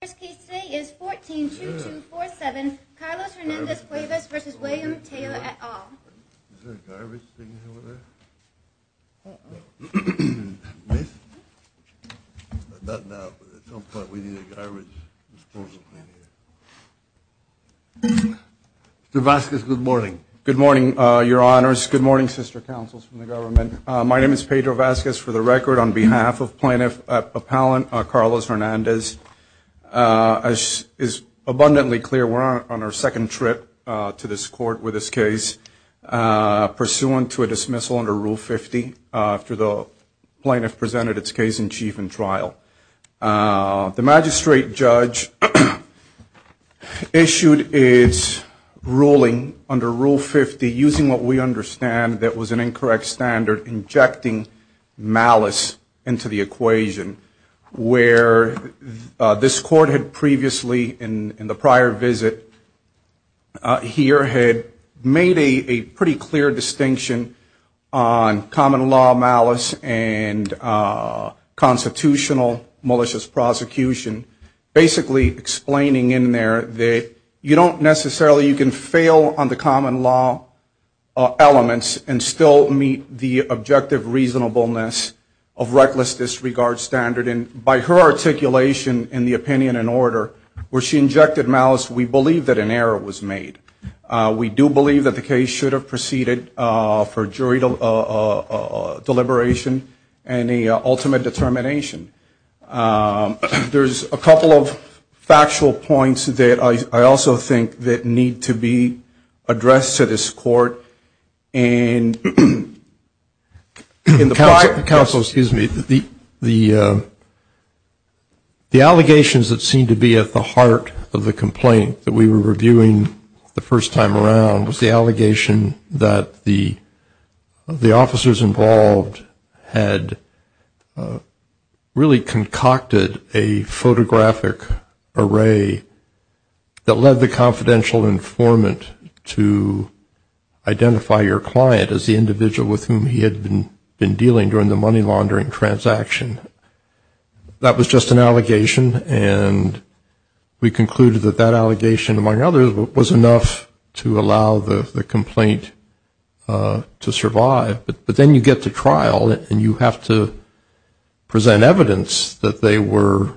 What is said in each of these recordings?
First case today is 14-2247, Carlos Hernandez-Cuevas v. William Taylor, et al. Is there a garbage thing over there? Miss? Not now, but at some point we need a garbage disposal plan here. Pedro Vasquez, good morning. Good morning, Your Honors. Good morning, sister councils from the government. My name is Pedro Vasquez, for the record, on behalf of plaintiff appellant Carlos Hernandez. As is abundantly clear, we're on our second trip to this court with this case, pursuant to a dismissal under Rule 50 after the plaintiff presented its case in chief in trial. The magistrate judge issued its ruling under Rule 50, basically using what we understand that was an incorrect standard, injecting malice into the equation, where this court had previously, in the prior visit here, had made a pretty clear distinction on common law malice and constitutional malicious prosecution, basically explaining in there that you don't necessarily, you can fail on the common law elements and still meet the objective reasonableness of reckless disregard standard. And by her articulation in the opinion and order, where she injected malice, we believe that an error was made. We do believe that the case should have proceeded for jury deliberation and the ultimate determination. There's a couple of factual points that I also think that need to be addressed to this court. Counsel, excuse me. The allegations that seem to be at the heart of the complaint that we were reviewing the first time around was the allegation that the officers involved had really concocted a photographic array that led the confidential informant to identify your client as the individual with whom he had been dealing during the money laundering transaction. That was just an allegation, and we concluded that that allegation, among others, was enough to allow the complaint to survive. But then you get to trial, and you have to present evidence that they were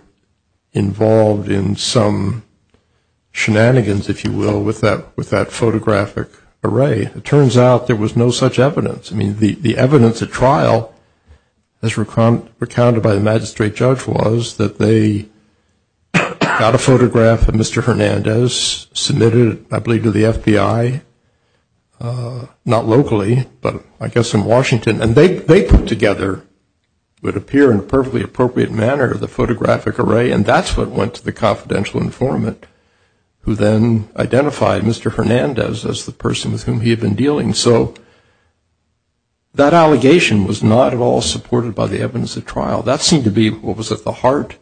involved in some shenanigans, if you will, with that photographic array. It turns out there was no such evidence. I mean, the evidence at trial, as recounted by the magistrate judge, was that they got a photograph of Mr. Hernandez, submitted it, I believe, to the FBI, not locally, but I guess in Washington, and they put together what would appear in a perfectly appropriate manner the photographic array, and that's what went to the confidential informant who then identified Mr. Hernandez as the person with whom he had been dealing. So that allegation was not at all supported by the evidence at trial. That seemed to be what was at the heart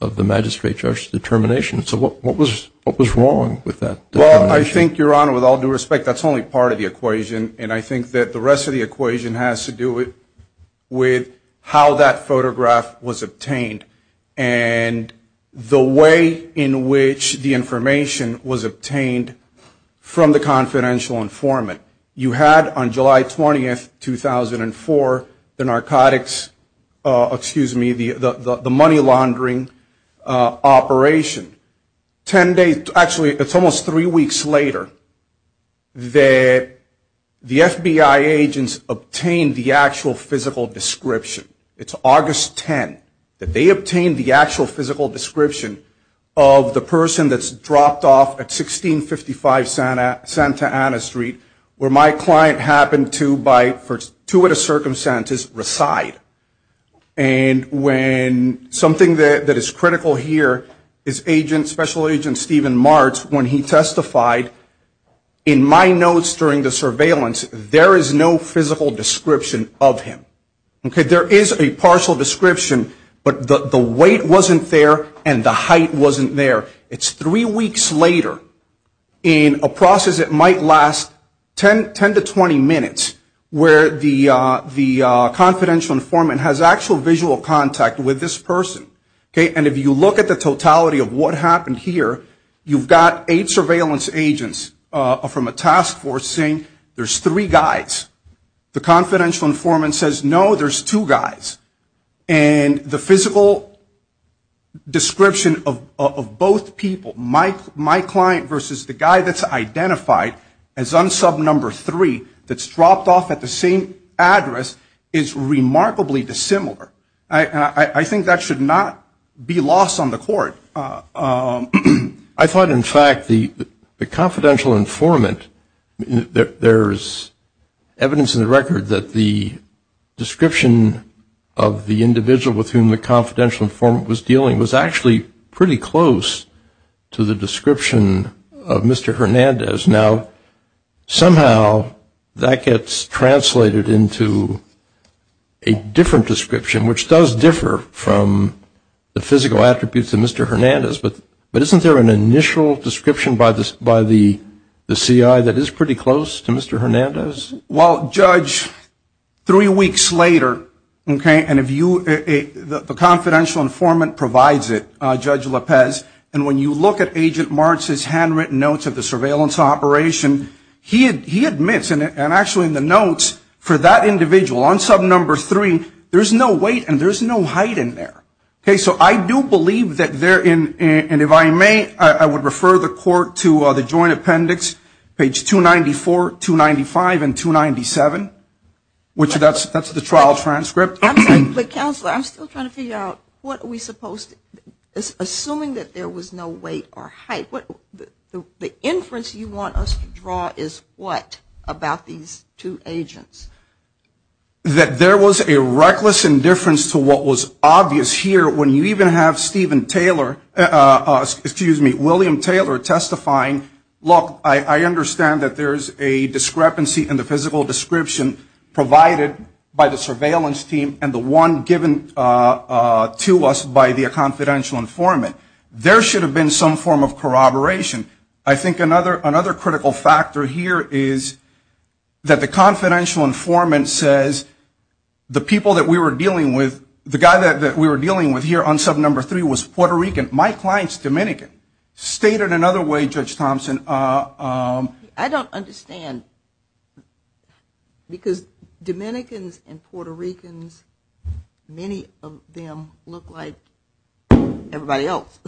of the magistrate judge's determination. So what was wrong with that determination? I think, Your Honor, with all due respect, that's only part of the equation, and I think that the rest of the equation has to do with how that photograph was obtained, and the way in which the information was obtained from the confidential informant. You had on July 20, 2004, the narcotics, excuse me, the money laundering operation. Ten days, actually, it's almost three weeks later that the FBI agents obtained the actual physical description. It's August 10 that they obtained the actual physical description of the person that's dropped off at 1655 Santa Ana Street, where my client happened to, by fortuitous circumstances, reside. And when something that is critical here is Special Agent Stephen Martz, when he testified, in my notes during the surveillance, there is no physical description of him. There is a partial description, but the weight wasn't there, and the height wasn't there. It's three weeks later, in a process that might last 10 to 20 minutes, where the confidential informant, has actual visual contact with this person. And if you look at the totality of what happened here, you've got eight surveillance agents from a task force saying, there's three guys. The confidential informant says, no, there's two guys. And the physical description of both people, my client versus the guy that's identified as unsub number three, that's dropped off at the same address, is remarkably dissimilar. I think that should not be lost on the court. I thought, in fact, the confidential informant, there's evidence in the record that the description of the individual with whom the confidential informant was dealing was actually pretty close to the description of Mr. Hernandez. Now, somehow, that gets translated into a different description, which does differ from the physical attributes of Mr. Hernandez. But isn't there an initial description by the C.I. that is pretty close to Mr. Hernandez? Well, Judge, three weeks later, okay, and the confidential informant provides it, Judge Lopez, and when you look at Agent Martz's handwritten notes of the surveillance officer, he admits, and actually in the notes, for that individual, unsub number three, there's no weight and there's no height in there. Okay, so I do believe that there, and if I may, I would refer the court to the joint appendix, page 294, 295, and 297, which that's the trial transcript. I'm sorry, but Counselor, I'm still trying to figure out what are we supposed to, assuming that there was no weight or height, what, the inference you want us to draw is what about these two agents? That there was a reckless indifference to what was obvious here when you even have Stephen Taylor, excuse me, William Taylor testifying, look, I understand that there's a discrepancy in the physical description provided by the surveillance team and the one given to us by the confidential informant. There should have been some form of corroboration. I think another critical factor here is that the confidential informant says the people that we were dealing with, the guy that we were dealing with here unsub number three was Puerto Rican. My client's Dominican. State it another way, Judge Thompson. I don't understand because Dominicans and Puerto Ricans, many of them look like everybody else.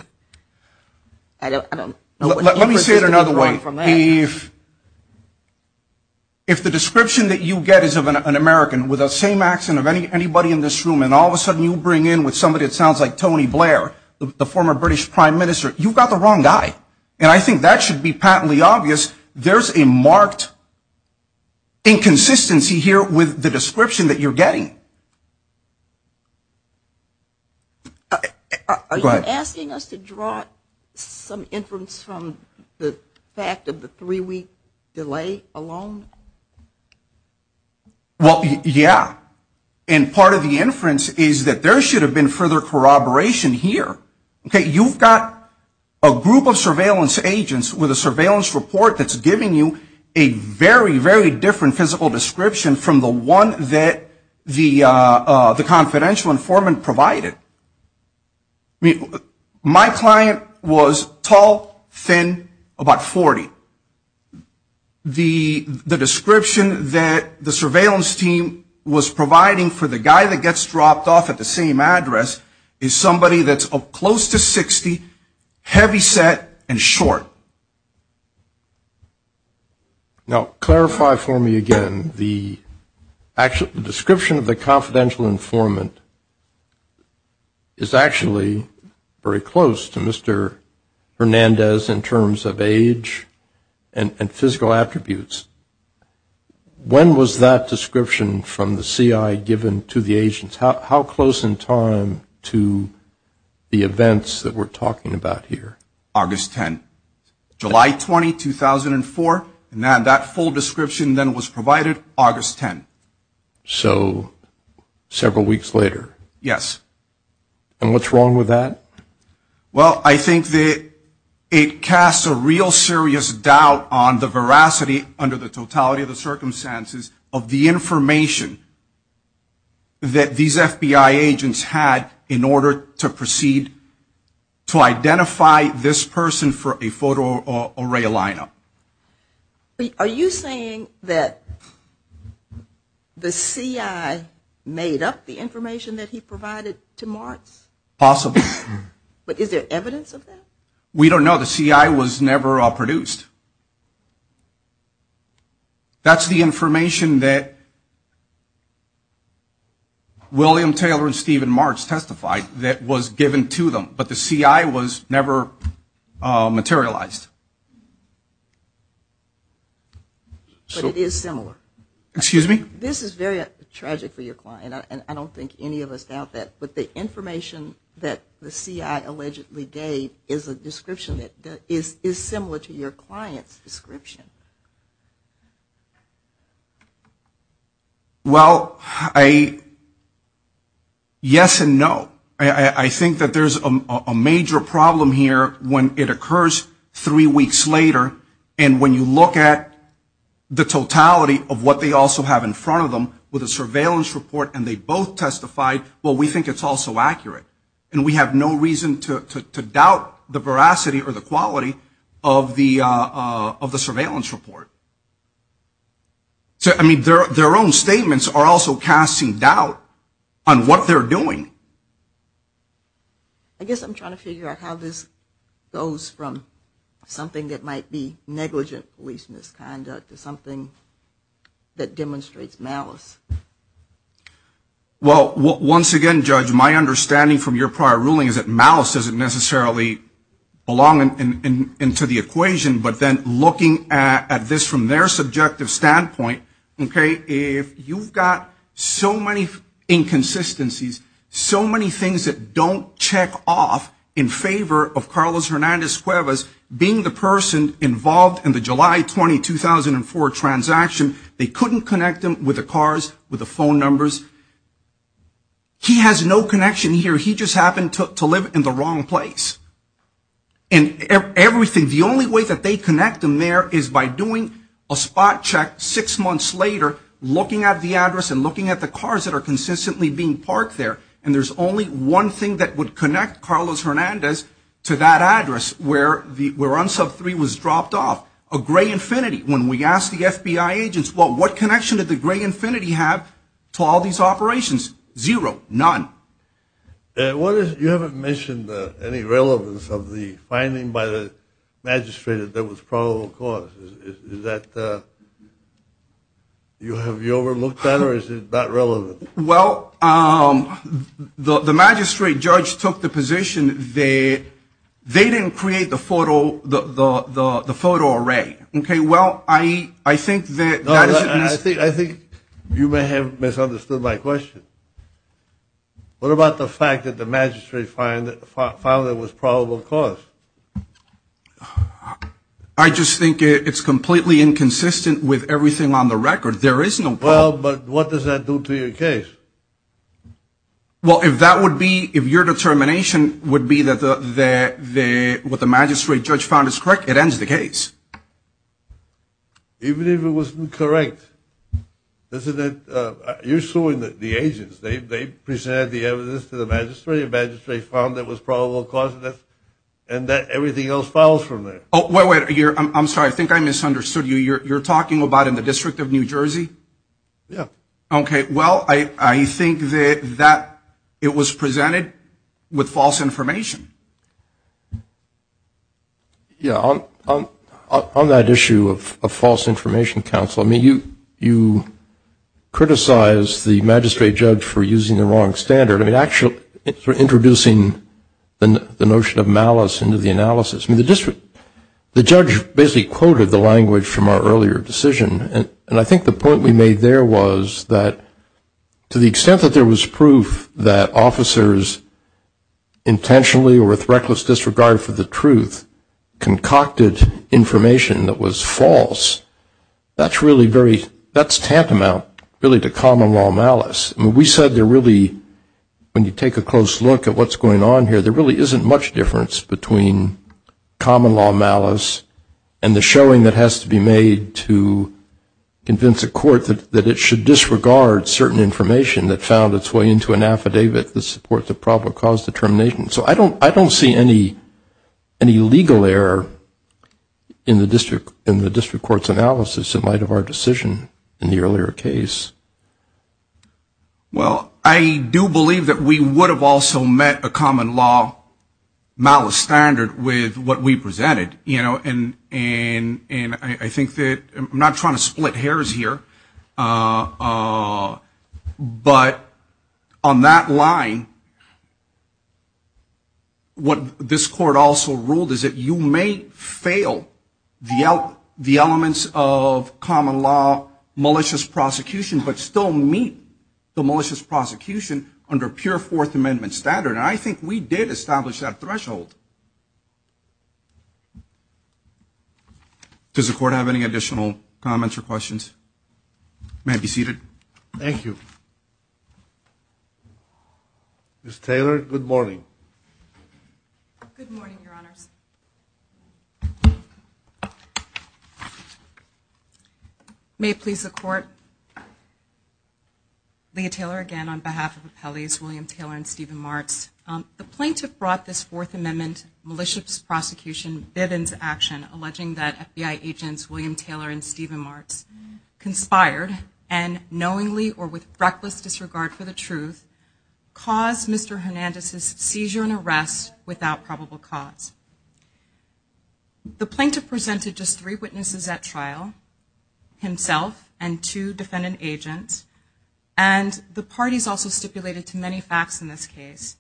Let me say it another way. If the description that you get is of an American with the same accent of anybody in this room and all of a sudden you bring in with somebody that sounds like Tony Blair, the former British Prime Minister, you've got the wrong guy. And I think that should be patently obvious. There's a marked inconsistency here with the description that you're getting. Are you asking us to draw some inference from the fact of the three-week delay alone? Well, yeah. And part of the inference is that there should have been further corroboration here. You've got a group of surveillance agents with a surveillance report that's giving you a very, very different physical description from the one that the confidential informant provided. My client was tall, thin, about 40. The description that the surveillance team was providing for the guy that gets dropped off at the same address is somebody that's close to 60, heavy set, and short. Now, clarify for me again. The description of the confidential informant is actually very close to Mr. Hernandez in terms of age. And physical attributes. When was that description from the CI given to the agents? How close in time to the events that we're talking about here? August 10. July 20, 2004, and that full description then was provided August 10. So several weeks later. Yes. And what's wrong with that? Well, I think that it casts a real serious doubt on the veracity under the totality of the circumstances of the information that these FBI agents had in order to proceed to identify this person for a photo array lineup. Are you saying that the CI made up the information that he provided to Martz? Possibly. But is there evidence of that? We don't know. The CI was never produced. That's the information that William Taylor and Stephen Martz testified that was given to them. But the CI was never materialized. But it is similar. Excuse me? This is very tragic for your client. I don't think any of us doubt that. But the information that the CI allegedly gave is a description that is similar to your client's description. Well, yes and no. I think that there's a major problem here when it occurs three weeks later and when you look at the totality of what they also have in front of them with a surveillance report and they both testified, well, we think it's also accurate. And we have no reason to doubt the veracity or the quality of the surveillance report. I mean, their own statements are also casting doubt on what they're doing. I guess I'm trying to figure out how this goes from something that might be negligent police misconduct to something that demonstrates malice. Well, once again, Judge, my understanding from your prior ruling is that malice doesn't necessarily belong into the equation. But then looking at this from their subjective standpoint, okay, if you've got so many inconsistencies, so many things that don't check off in favor of Carlos Hernandez Cuevas being the person involved in the July 20, 2004 transaction, they couldn't connect him with the cars, with the phone numbers. He has no connection here. He just happened to live in the wrong place. And everything, the only way that they connect him there is by doing a spot check six months later, looking at the address and looking at the cars that are consistently being parked there. And there's only one thing that would connect Carlos Hernandez to that address where unsub three was dropped off, a gray infinity. When we asked the FBI agents, well, what connection did the gray infinity have to all these operations? Zero, none. You haven't mentioned any relevance of the finding by the magistrate that there was probable cause. Have you overlooked that or is it not relevant? Well, the magistrate judge took the position that they didn't create the photo array. Okay, well, I think you may have misunderstood my question. What about the fact that the magistrate found it was probable cause? I just think it's completely inconsistent with everything on the record. Well, but what does that do to your case? Well, if your determination would be that what the magistrate judge found is correct, it ends the case. Even if it wasn't correct, you're suing the agents. They presented the evidence to the magistrate, the magistrate found it was probable cause, and everything else follows from there. Oh, wait, wait, I'm sorry. I think I misunderstood you. You're talking about in the District of New Jersey? Yeah. Okay, well, I think that it was presented with false information. Yeah, on that issue of false information, counsel, I mean, you criticized the magistrate judge for using the wrong standard. I mean, actually, for introducing the notion of malice into the analysis. I mean, the judge basically quoted the language from our earlier decision, and I think the point we made there was that to the extent that there was proof that officers intentionally or with reckless disregard for the truth concocted information that was false, that's really very, that's tantamount really to common law malice. I mean, we said there really, when you take a close look at what's going on here, there really isn't much difference between common law malice and the showing that has to be made to convince a court that it should disregard certain information that found its way into an affidavit that supports a probable cause determination. So I don't see any legal error in the district court's analysis in light of our decision in the earlier case. Well, I do believe that we would have also met a common law malice standard with what we presented, you know, and I think that, I'm not trying to split hairs here, but on that line, what this court also ruled is that you may fail the elements of common law malicious prosecution but still meet the malicious prosecution under pure Fourth Amendment standard. And I think we did establish that threshold. Does the court have any additional comments or questions? May I be seated? Thank you. Ms. Taylor, good morning. Good morning, Your Honors. May it please the Court. Leah Taylor again on behalf of Appellees William Taylor and Stephen Martz. The plaintiff brought this Fourth Amendment malicious prosecution bid into action, alleging that FBI agents William Taylor and Stephen Martz conspired and knowingly or with reckless disregard for the truth, caused Mr. Hernandez's seizure and arrest without probable cause. The plaintiff presented just three witnesses at trial, himself and two defendant agents, and the parties also stipulated too many facts in this case.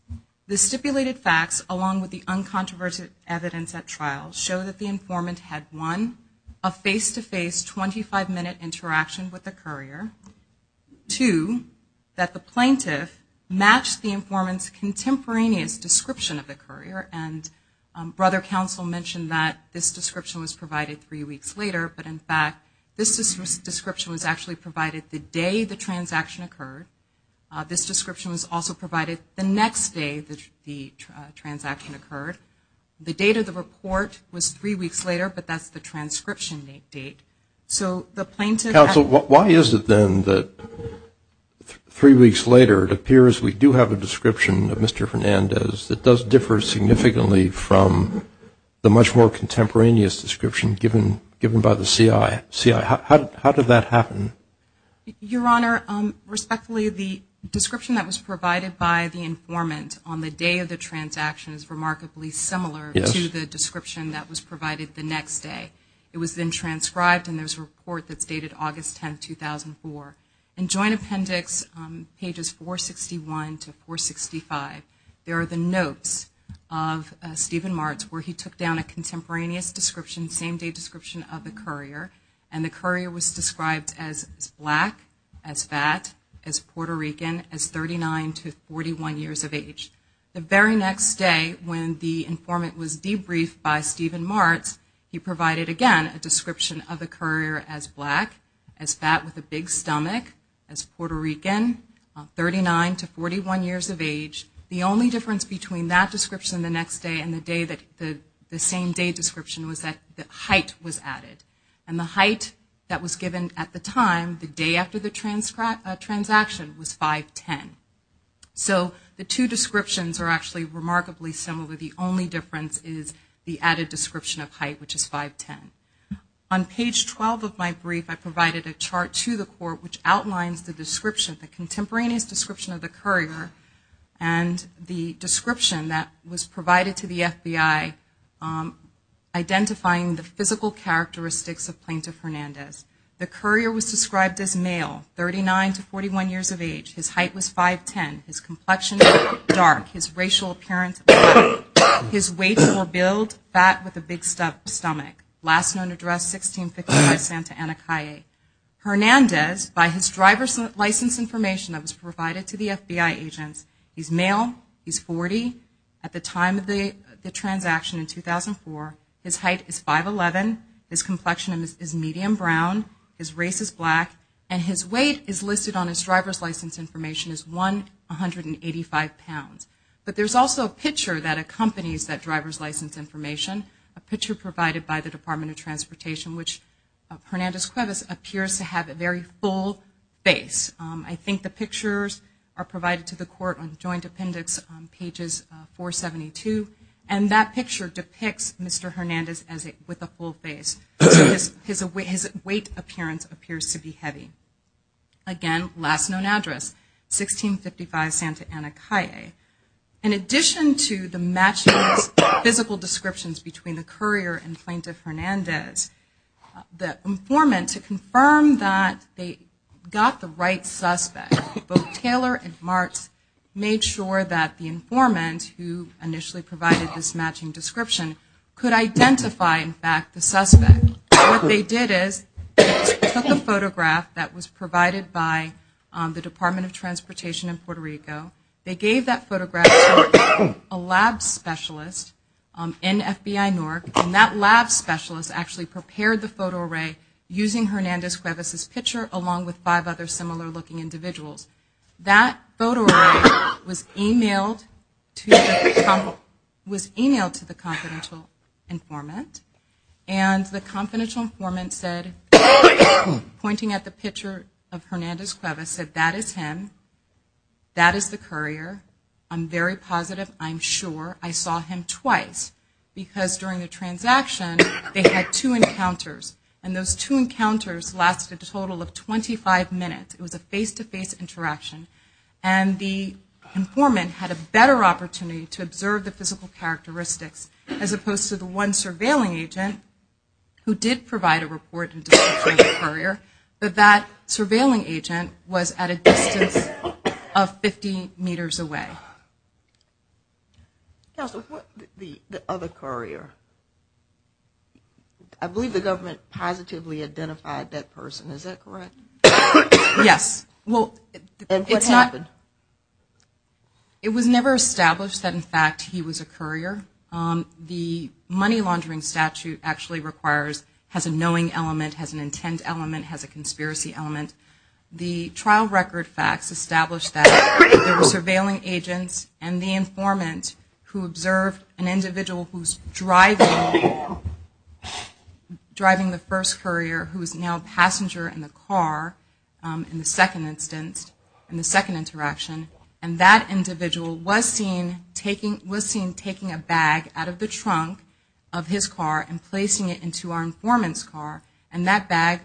The stipulated facts, along with the uncontroversial evidence at trial, show that the informant had, one, a face-to-face, 25-minute interaction with the courier, two, that the plaintiff matched the informant's contemporaneous description of the courier and brother counsel mentioned that this description was provided three weeks later, but in fact this description was actually provided the day the transaction occurred. This description was also provided the next day the transaction occurred. The date of the report was three weeks later, but that's the transcription date. Counsel, why is it then that three weeks later it appears we do have a description of Mr. Hernandez that does differ significantly from the much more contemporaneous description given by the CI? How did that happen? Your Honor, respectfully, the description that was provided by the informant on the day of the transaction is remarkably similar to the description that was provided the next day. It was then transcribed and there's a report that's dated August 10, 2004. In Joint Appendix pages 461 to 465, there are the notes of Stephen Martz where he took down a contemporaneous description, same-day description of the courier and the courier was described as black, as fat, as Puerto Rican, as 39 to 41 years of age. The very next day when the informant was debriefed by Stephen Martz, he provided again a description of the courier as black, as fat with a big stomach, as Puerto Rican, 39 to 41 years of age. The only difference between that description the next day and the same-day description was that the height was added. The height that was given at the time, the day after the transaction, was 5'10". So the two descriptions are actually remarkably similar. The only difference is the added description of height, which is 5'10". On page 12 of my brief, I provided a chart to the court which outlines the description, the contemporaneous description of the courier and the description that was provided to the FBI identifying the physical characteristics of Plaintiff Hernandez. The courier was described as male, 39 to 41 years of age. His height was 5'10". His complexion, dark. His racial appearance, black. His weights were billed, fat with a big stomach. Last known address, 1655 Santa Ana Calle. Hernandez, by his driver's license information that was provided to the FBI agents, he's male, he's 40 at the time of the transaction in 2004. His height is 5'11". His complexion is medium brown. His race is black. And his weight is listed on his driver's license information as 185 pounds. But there's also a picture that accompanies that driver's license information, a picture provided by the Department of Transportation, which Hernandez-Cuevas appears to have a very full face. I think the pictures are provided to the court on joint appendix on pages 472. And that picture depicts Mr. Hernandez with a full face. His weight appearance appears to be heavy. Again, last known address, 1655 Santa Ana Calle. In addition to the matching physical descriptions between the courier and plaintiff Hernandez, the informant, to confirm that they got the right suspect, both Taylor and Martz made sure that the informant, who initially provided this matching description, could identify, in fact, the suspect. What they did is they took a photograph that was provided by the Department of Transportation in Puerto Rico. They gave that photograph to a lab specialist in FBI NORC. And that lab specialist actually prepared the photo array using Hernandez-Cuevas' picture along with five other similar looking individuals. That photo array was emailed to the confidential informant. And the confidential informant said, pointing at the picture of Hernandez-Cuevas, said that is him, that is the courier. I'm very positive, I'm sure. I saw him twice. Because during the transaction, they had two encounters. And those two encounters lasted a total of 25 minutes. It was a face-to-face interaction. And the informant had a better opportunity to observe the physical characteristics, as opposed to the one surveilling agent who did provide a report and description of the courier. But that surveilling agent was at a distance of 50 meters away. The other courier, I believe the government positively identified that person, is that correct? Yes. It was never established that in fact he was a courier. The money laundering statute actually requires, has a knowing element, has an intent element, has a conspiracy element. The trial record facts establish that there were surveilling agents and the informant who observed an individual who is driving the first courier, who is now a passenger in the car in the second instance, in the second interaction. And that individual was seen taking a bag out of the trunk of his car and placing it into our informant's car. And that bag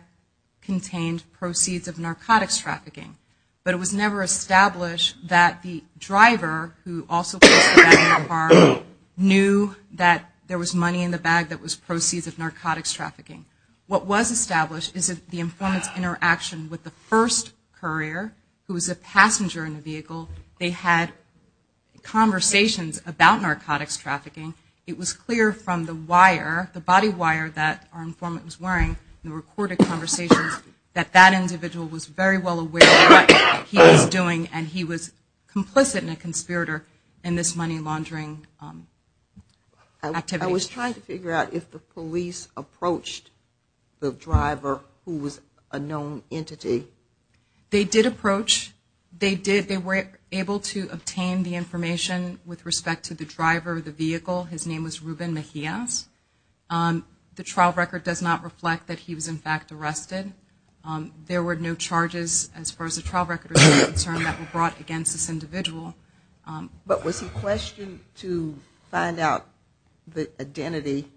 contained proceeds of narcotics trafficking. But it was never established that the driver who also placed the bag in the car knew that there was money in the bag that was proceeds of narcotics trafficking. What was established is that the informant's interaction with the first courier, who was a passenger in the vehicle, they had conversations about narcotics trafficking. It was clear from the wire, the body wire that our informant was wearing, the recorded conversations, that that individual was very well aware of what he was doing and he was complicit in a conspirator in this money laundering activity. I was trying to figure out if the police approached the driver who was a known entity. They did approach. They were able to obtain the information with respect to the driver of the vehicle. His name was Ruben Mejiaz. The trial record does not reflect that he was in fact arrested. There were no charges as far as the trial record was concerned that were brought against this individual. But was he questioned to find out the identity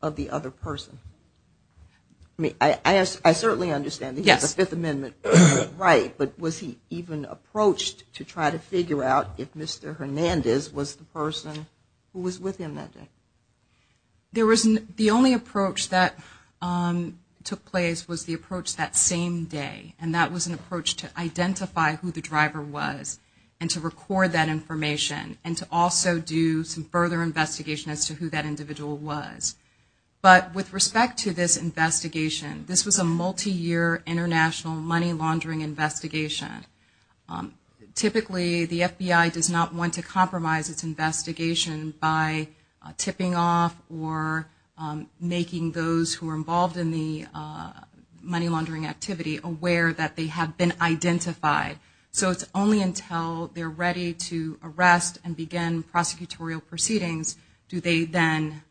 of the other person? I certainly understand that he has a Fifth Amendment right, but was he even approached to try to figure out if Mr. Hernandez was the person who was with him that day? The only approach that took place was the approach that same day. That was an approach to identify who the driver was and to record that information and to also do some further investigation as to who that individual was. But with respect to this investigation, this was a multiyear international money laundering investigation. Typically the FBI does not want to compromise its investigation by tipping off or making those who are involved in the money laundering activity aware that they have been identified. So it's only until they're ready to arrest and begin prosecutorial proceedings do they then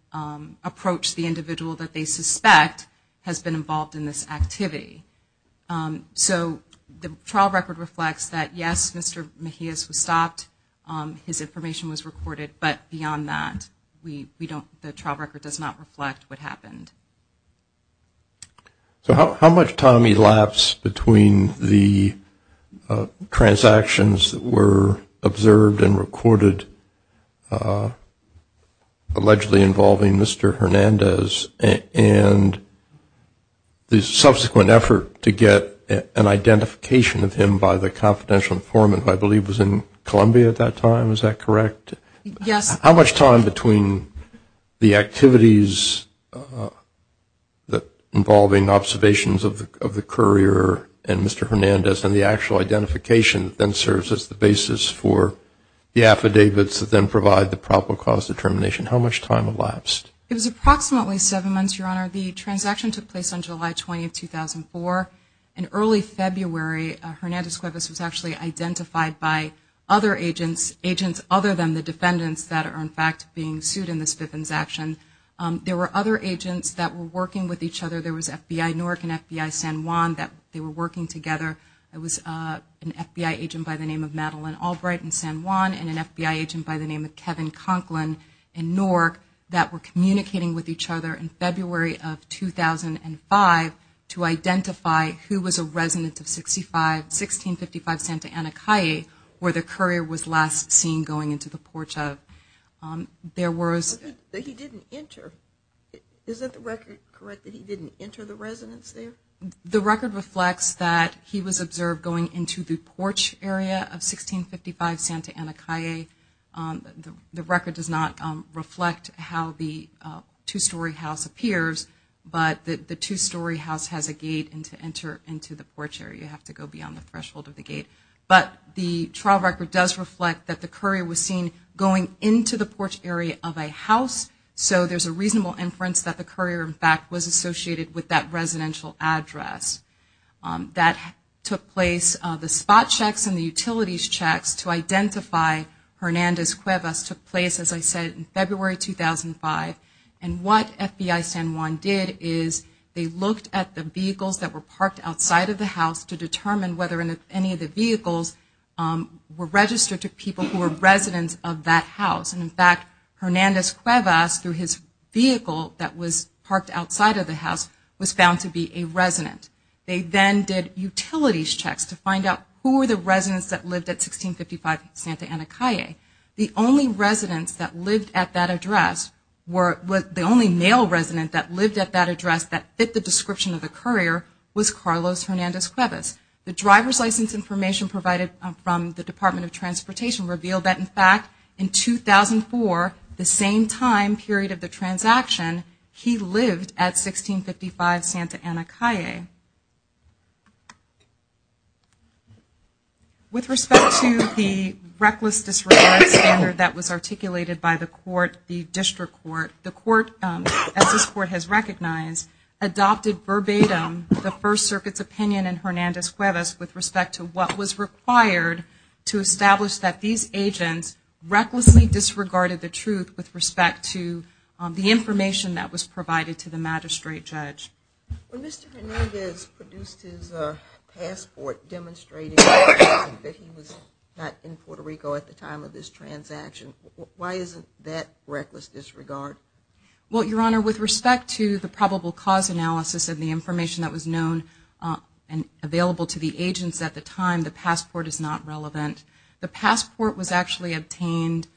approach the individual that they suspect has been involved in this activity. So the trial record reflects that yes, Mr. Mejiaz was stopped, his information was recorded, but beyond that the trial record does not reflect what happened. So how much time elapsed between the transactions that were observed and recorded allegedly involving Mr. Hernandez and the subsequent effort to get an identification of him by the confidential informant who I believe was in Columbia at that time, is that correct? Yes. How much time between the activities involving observations of the courier and Mr. Hernandez and the actual identification that then serves as the basis for the affidavits that then provide the proper cause determination, how much time elapsed? It was approximately seven months, Your Honor. The transaction took place on July 20, 2004. In early February Hernandez Cuevas was actually identified by other agents other than the defendants that are in fact being sued in this transaction. There were other agents that were working with each other. There was FBI NORC and FBI San Juan that they were working together. There was an FBI agent by the name of Madeline Albright in San Juan and an FBI agent by the name of Kevin Conklin in NORC that were communicating with each other in February of 2005 to identify who was a resident of 1655 Santa Ana Calle where the courier was last seen going into the porch of. But he didn't enter. Is that the record correct that he didn't enter the residence there? The record reflects that he was observed going into the porch area of 1655 Santa Ana Calle. The record does not reflect how the two-story house appears, but the two-story house has a gate and to enter into the porch area you have to go beyond the threshold of the gate. But the trial record does reflect that the courier was seen going into the porch area of a house, so there's a reasonable inference that the courier in fact was associated with that residential address. That took place. The spot checks and the utilities checks to identify Hernandez Cuevas took place, as I said, in February 2005. And what FBI San Juan did is they looked at the vehicles that were parked outside of the house to determine whether any of the vehicles were registered to people who were residents of that house. And in fact, Hernandez Cuevas, through his vehicle that was parked outside of the house, was found to be a resident. They then did utilities checks to find out who were the residents that lived at 1655 Santa Ana Calle. The only male resident that lived at that address that fit the description of the courier was Carlos Hernandez Cuevas. The driver's license information provided from the Department of Transportation revealed that in fact, in 2004, the same time period of the transaction, he lived at 1655 Santa Ana Calle. With respect to the reckless disregard standard that was articulated by the court, the district court, the court, as this court has recognized, adopted verbatim the First Circuit's opinion in Hernandez Cuevas with respect to what was required to establish that these agents recklessly disregarded the truth with respect to the information that was provided to the magistrate judge. When Mr. Hernandez produced his passport demonstrating that he was not in Puerto Rico at the time of this transaction, why isn't that reckless disregard? Well, Your Honor, with respect to the probable cause analysis and the information that was known and available to the agents at the time, the passport is not relevant. The passport was actually obtained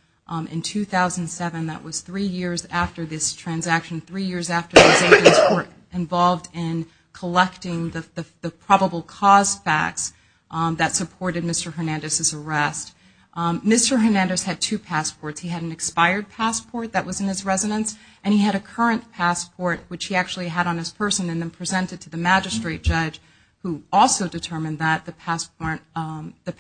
in 2007. That was three years after this transaction, three years after these agents were involved in collecting the probable cause facts that supported Mr. Hernandez's arrest. Mr. Hernandez had two passports. He had an expired passport that was in his residence and he had a current passport, which he actually had on his person and then presented to the magistrate judge who also determined that the passport, at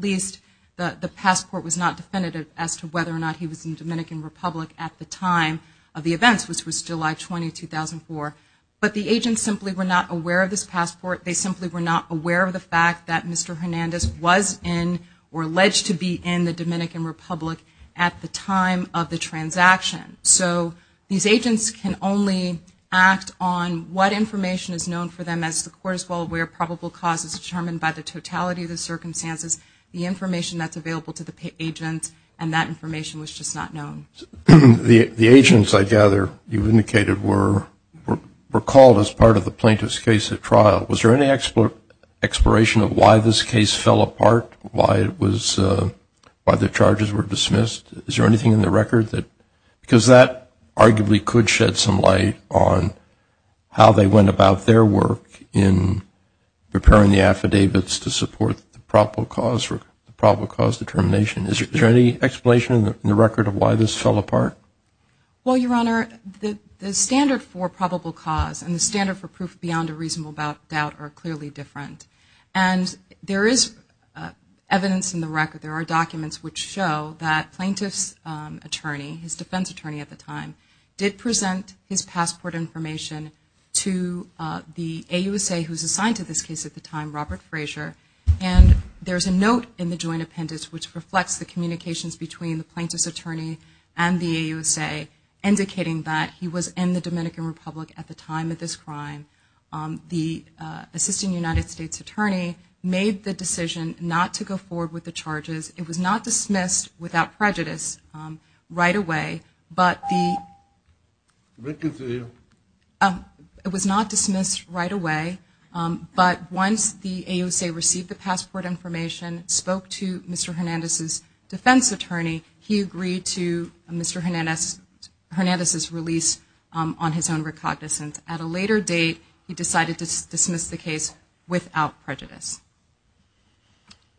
least, the passport was not definitive as to whether or not he was in the Dominican Republic at the time of the events, which was July 20, 2004. But the agents simply were not aware of this passport. They simply were not aware of the fact that Mr. Hernandez was in or alleged to be in the Dominican Republic at the time of the transaction. So these agents can only act on what information is known for them as the court is well aware of probable causes determined by the totality of the circumstances, the information that's available to the agent, and that information was just not known. The agents, I gather, you've indicated, were called as part of the plaintiff's case at trial. Was there any exploration of why this case fell apart, why the charges were dismissed? Is there anything in the record? Because that arguably could shed some light on how they went about their work in preparing the affidavits to support the probable cause determination. Is there any explanation in the record of why this fell apart? Well, Your Honor, the standard for probable cause and the standard for proof beyond a reasonable doubt are clearly different. And there is evidence in the record, there are documents which show that plaintiff's attorney, his defense attorney at the time, did present his passport information to the AUSA who was assigned to this case at the time, Robert Frazier. And there's a note in the joint appendix which reflects the communications between the plaintiff's attorney and the AUSA indicating that he was in the Dominican Republic at the time of this crime. The assistant United States attorney made the decision not to go forward with the charges. It was not dismissed without prejudice right away. It was not dismissed right away. But once the AUSA received the passport information, spoke to Mr. Hernandez's defense attorney, he agreed to Mr. Hernandez's release on his own recognizance. At a later date, he decided to dismiss the case without prejudice. Thank you.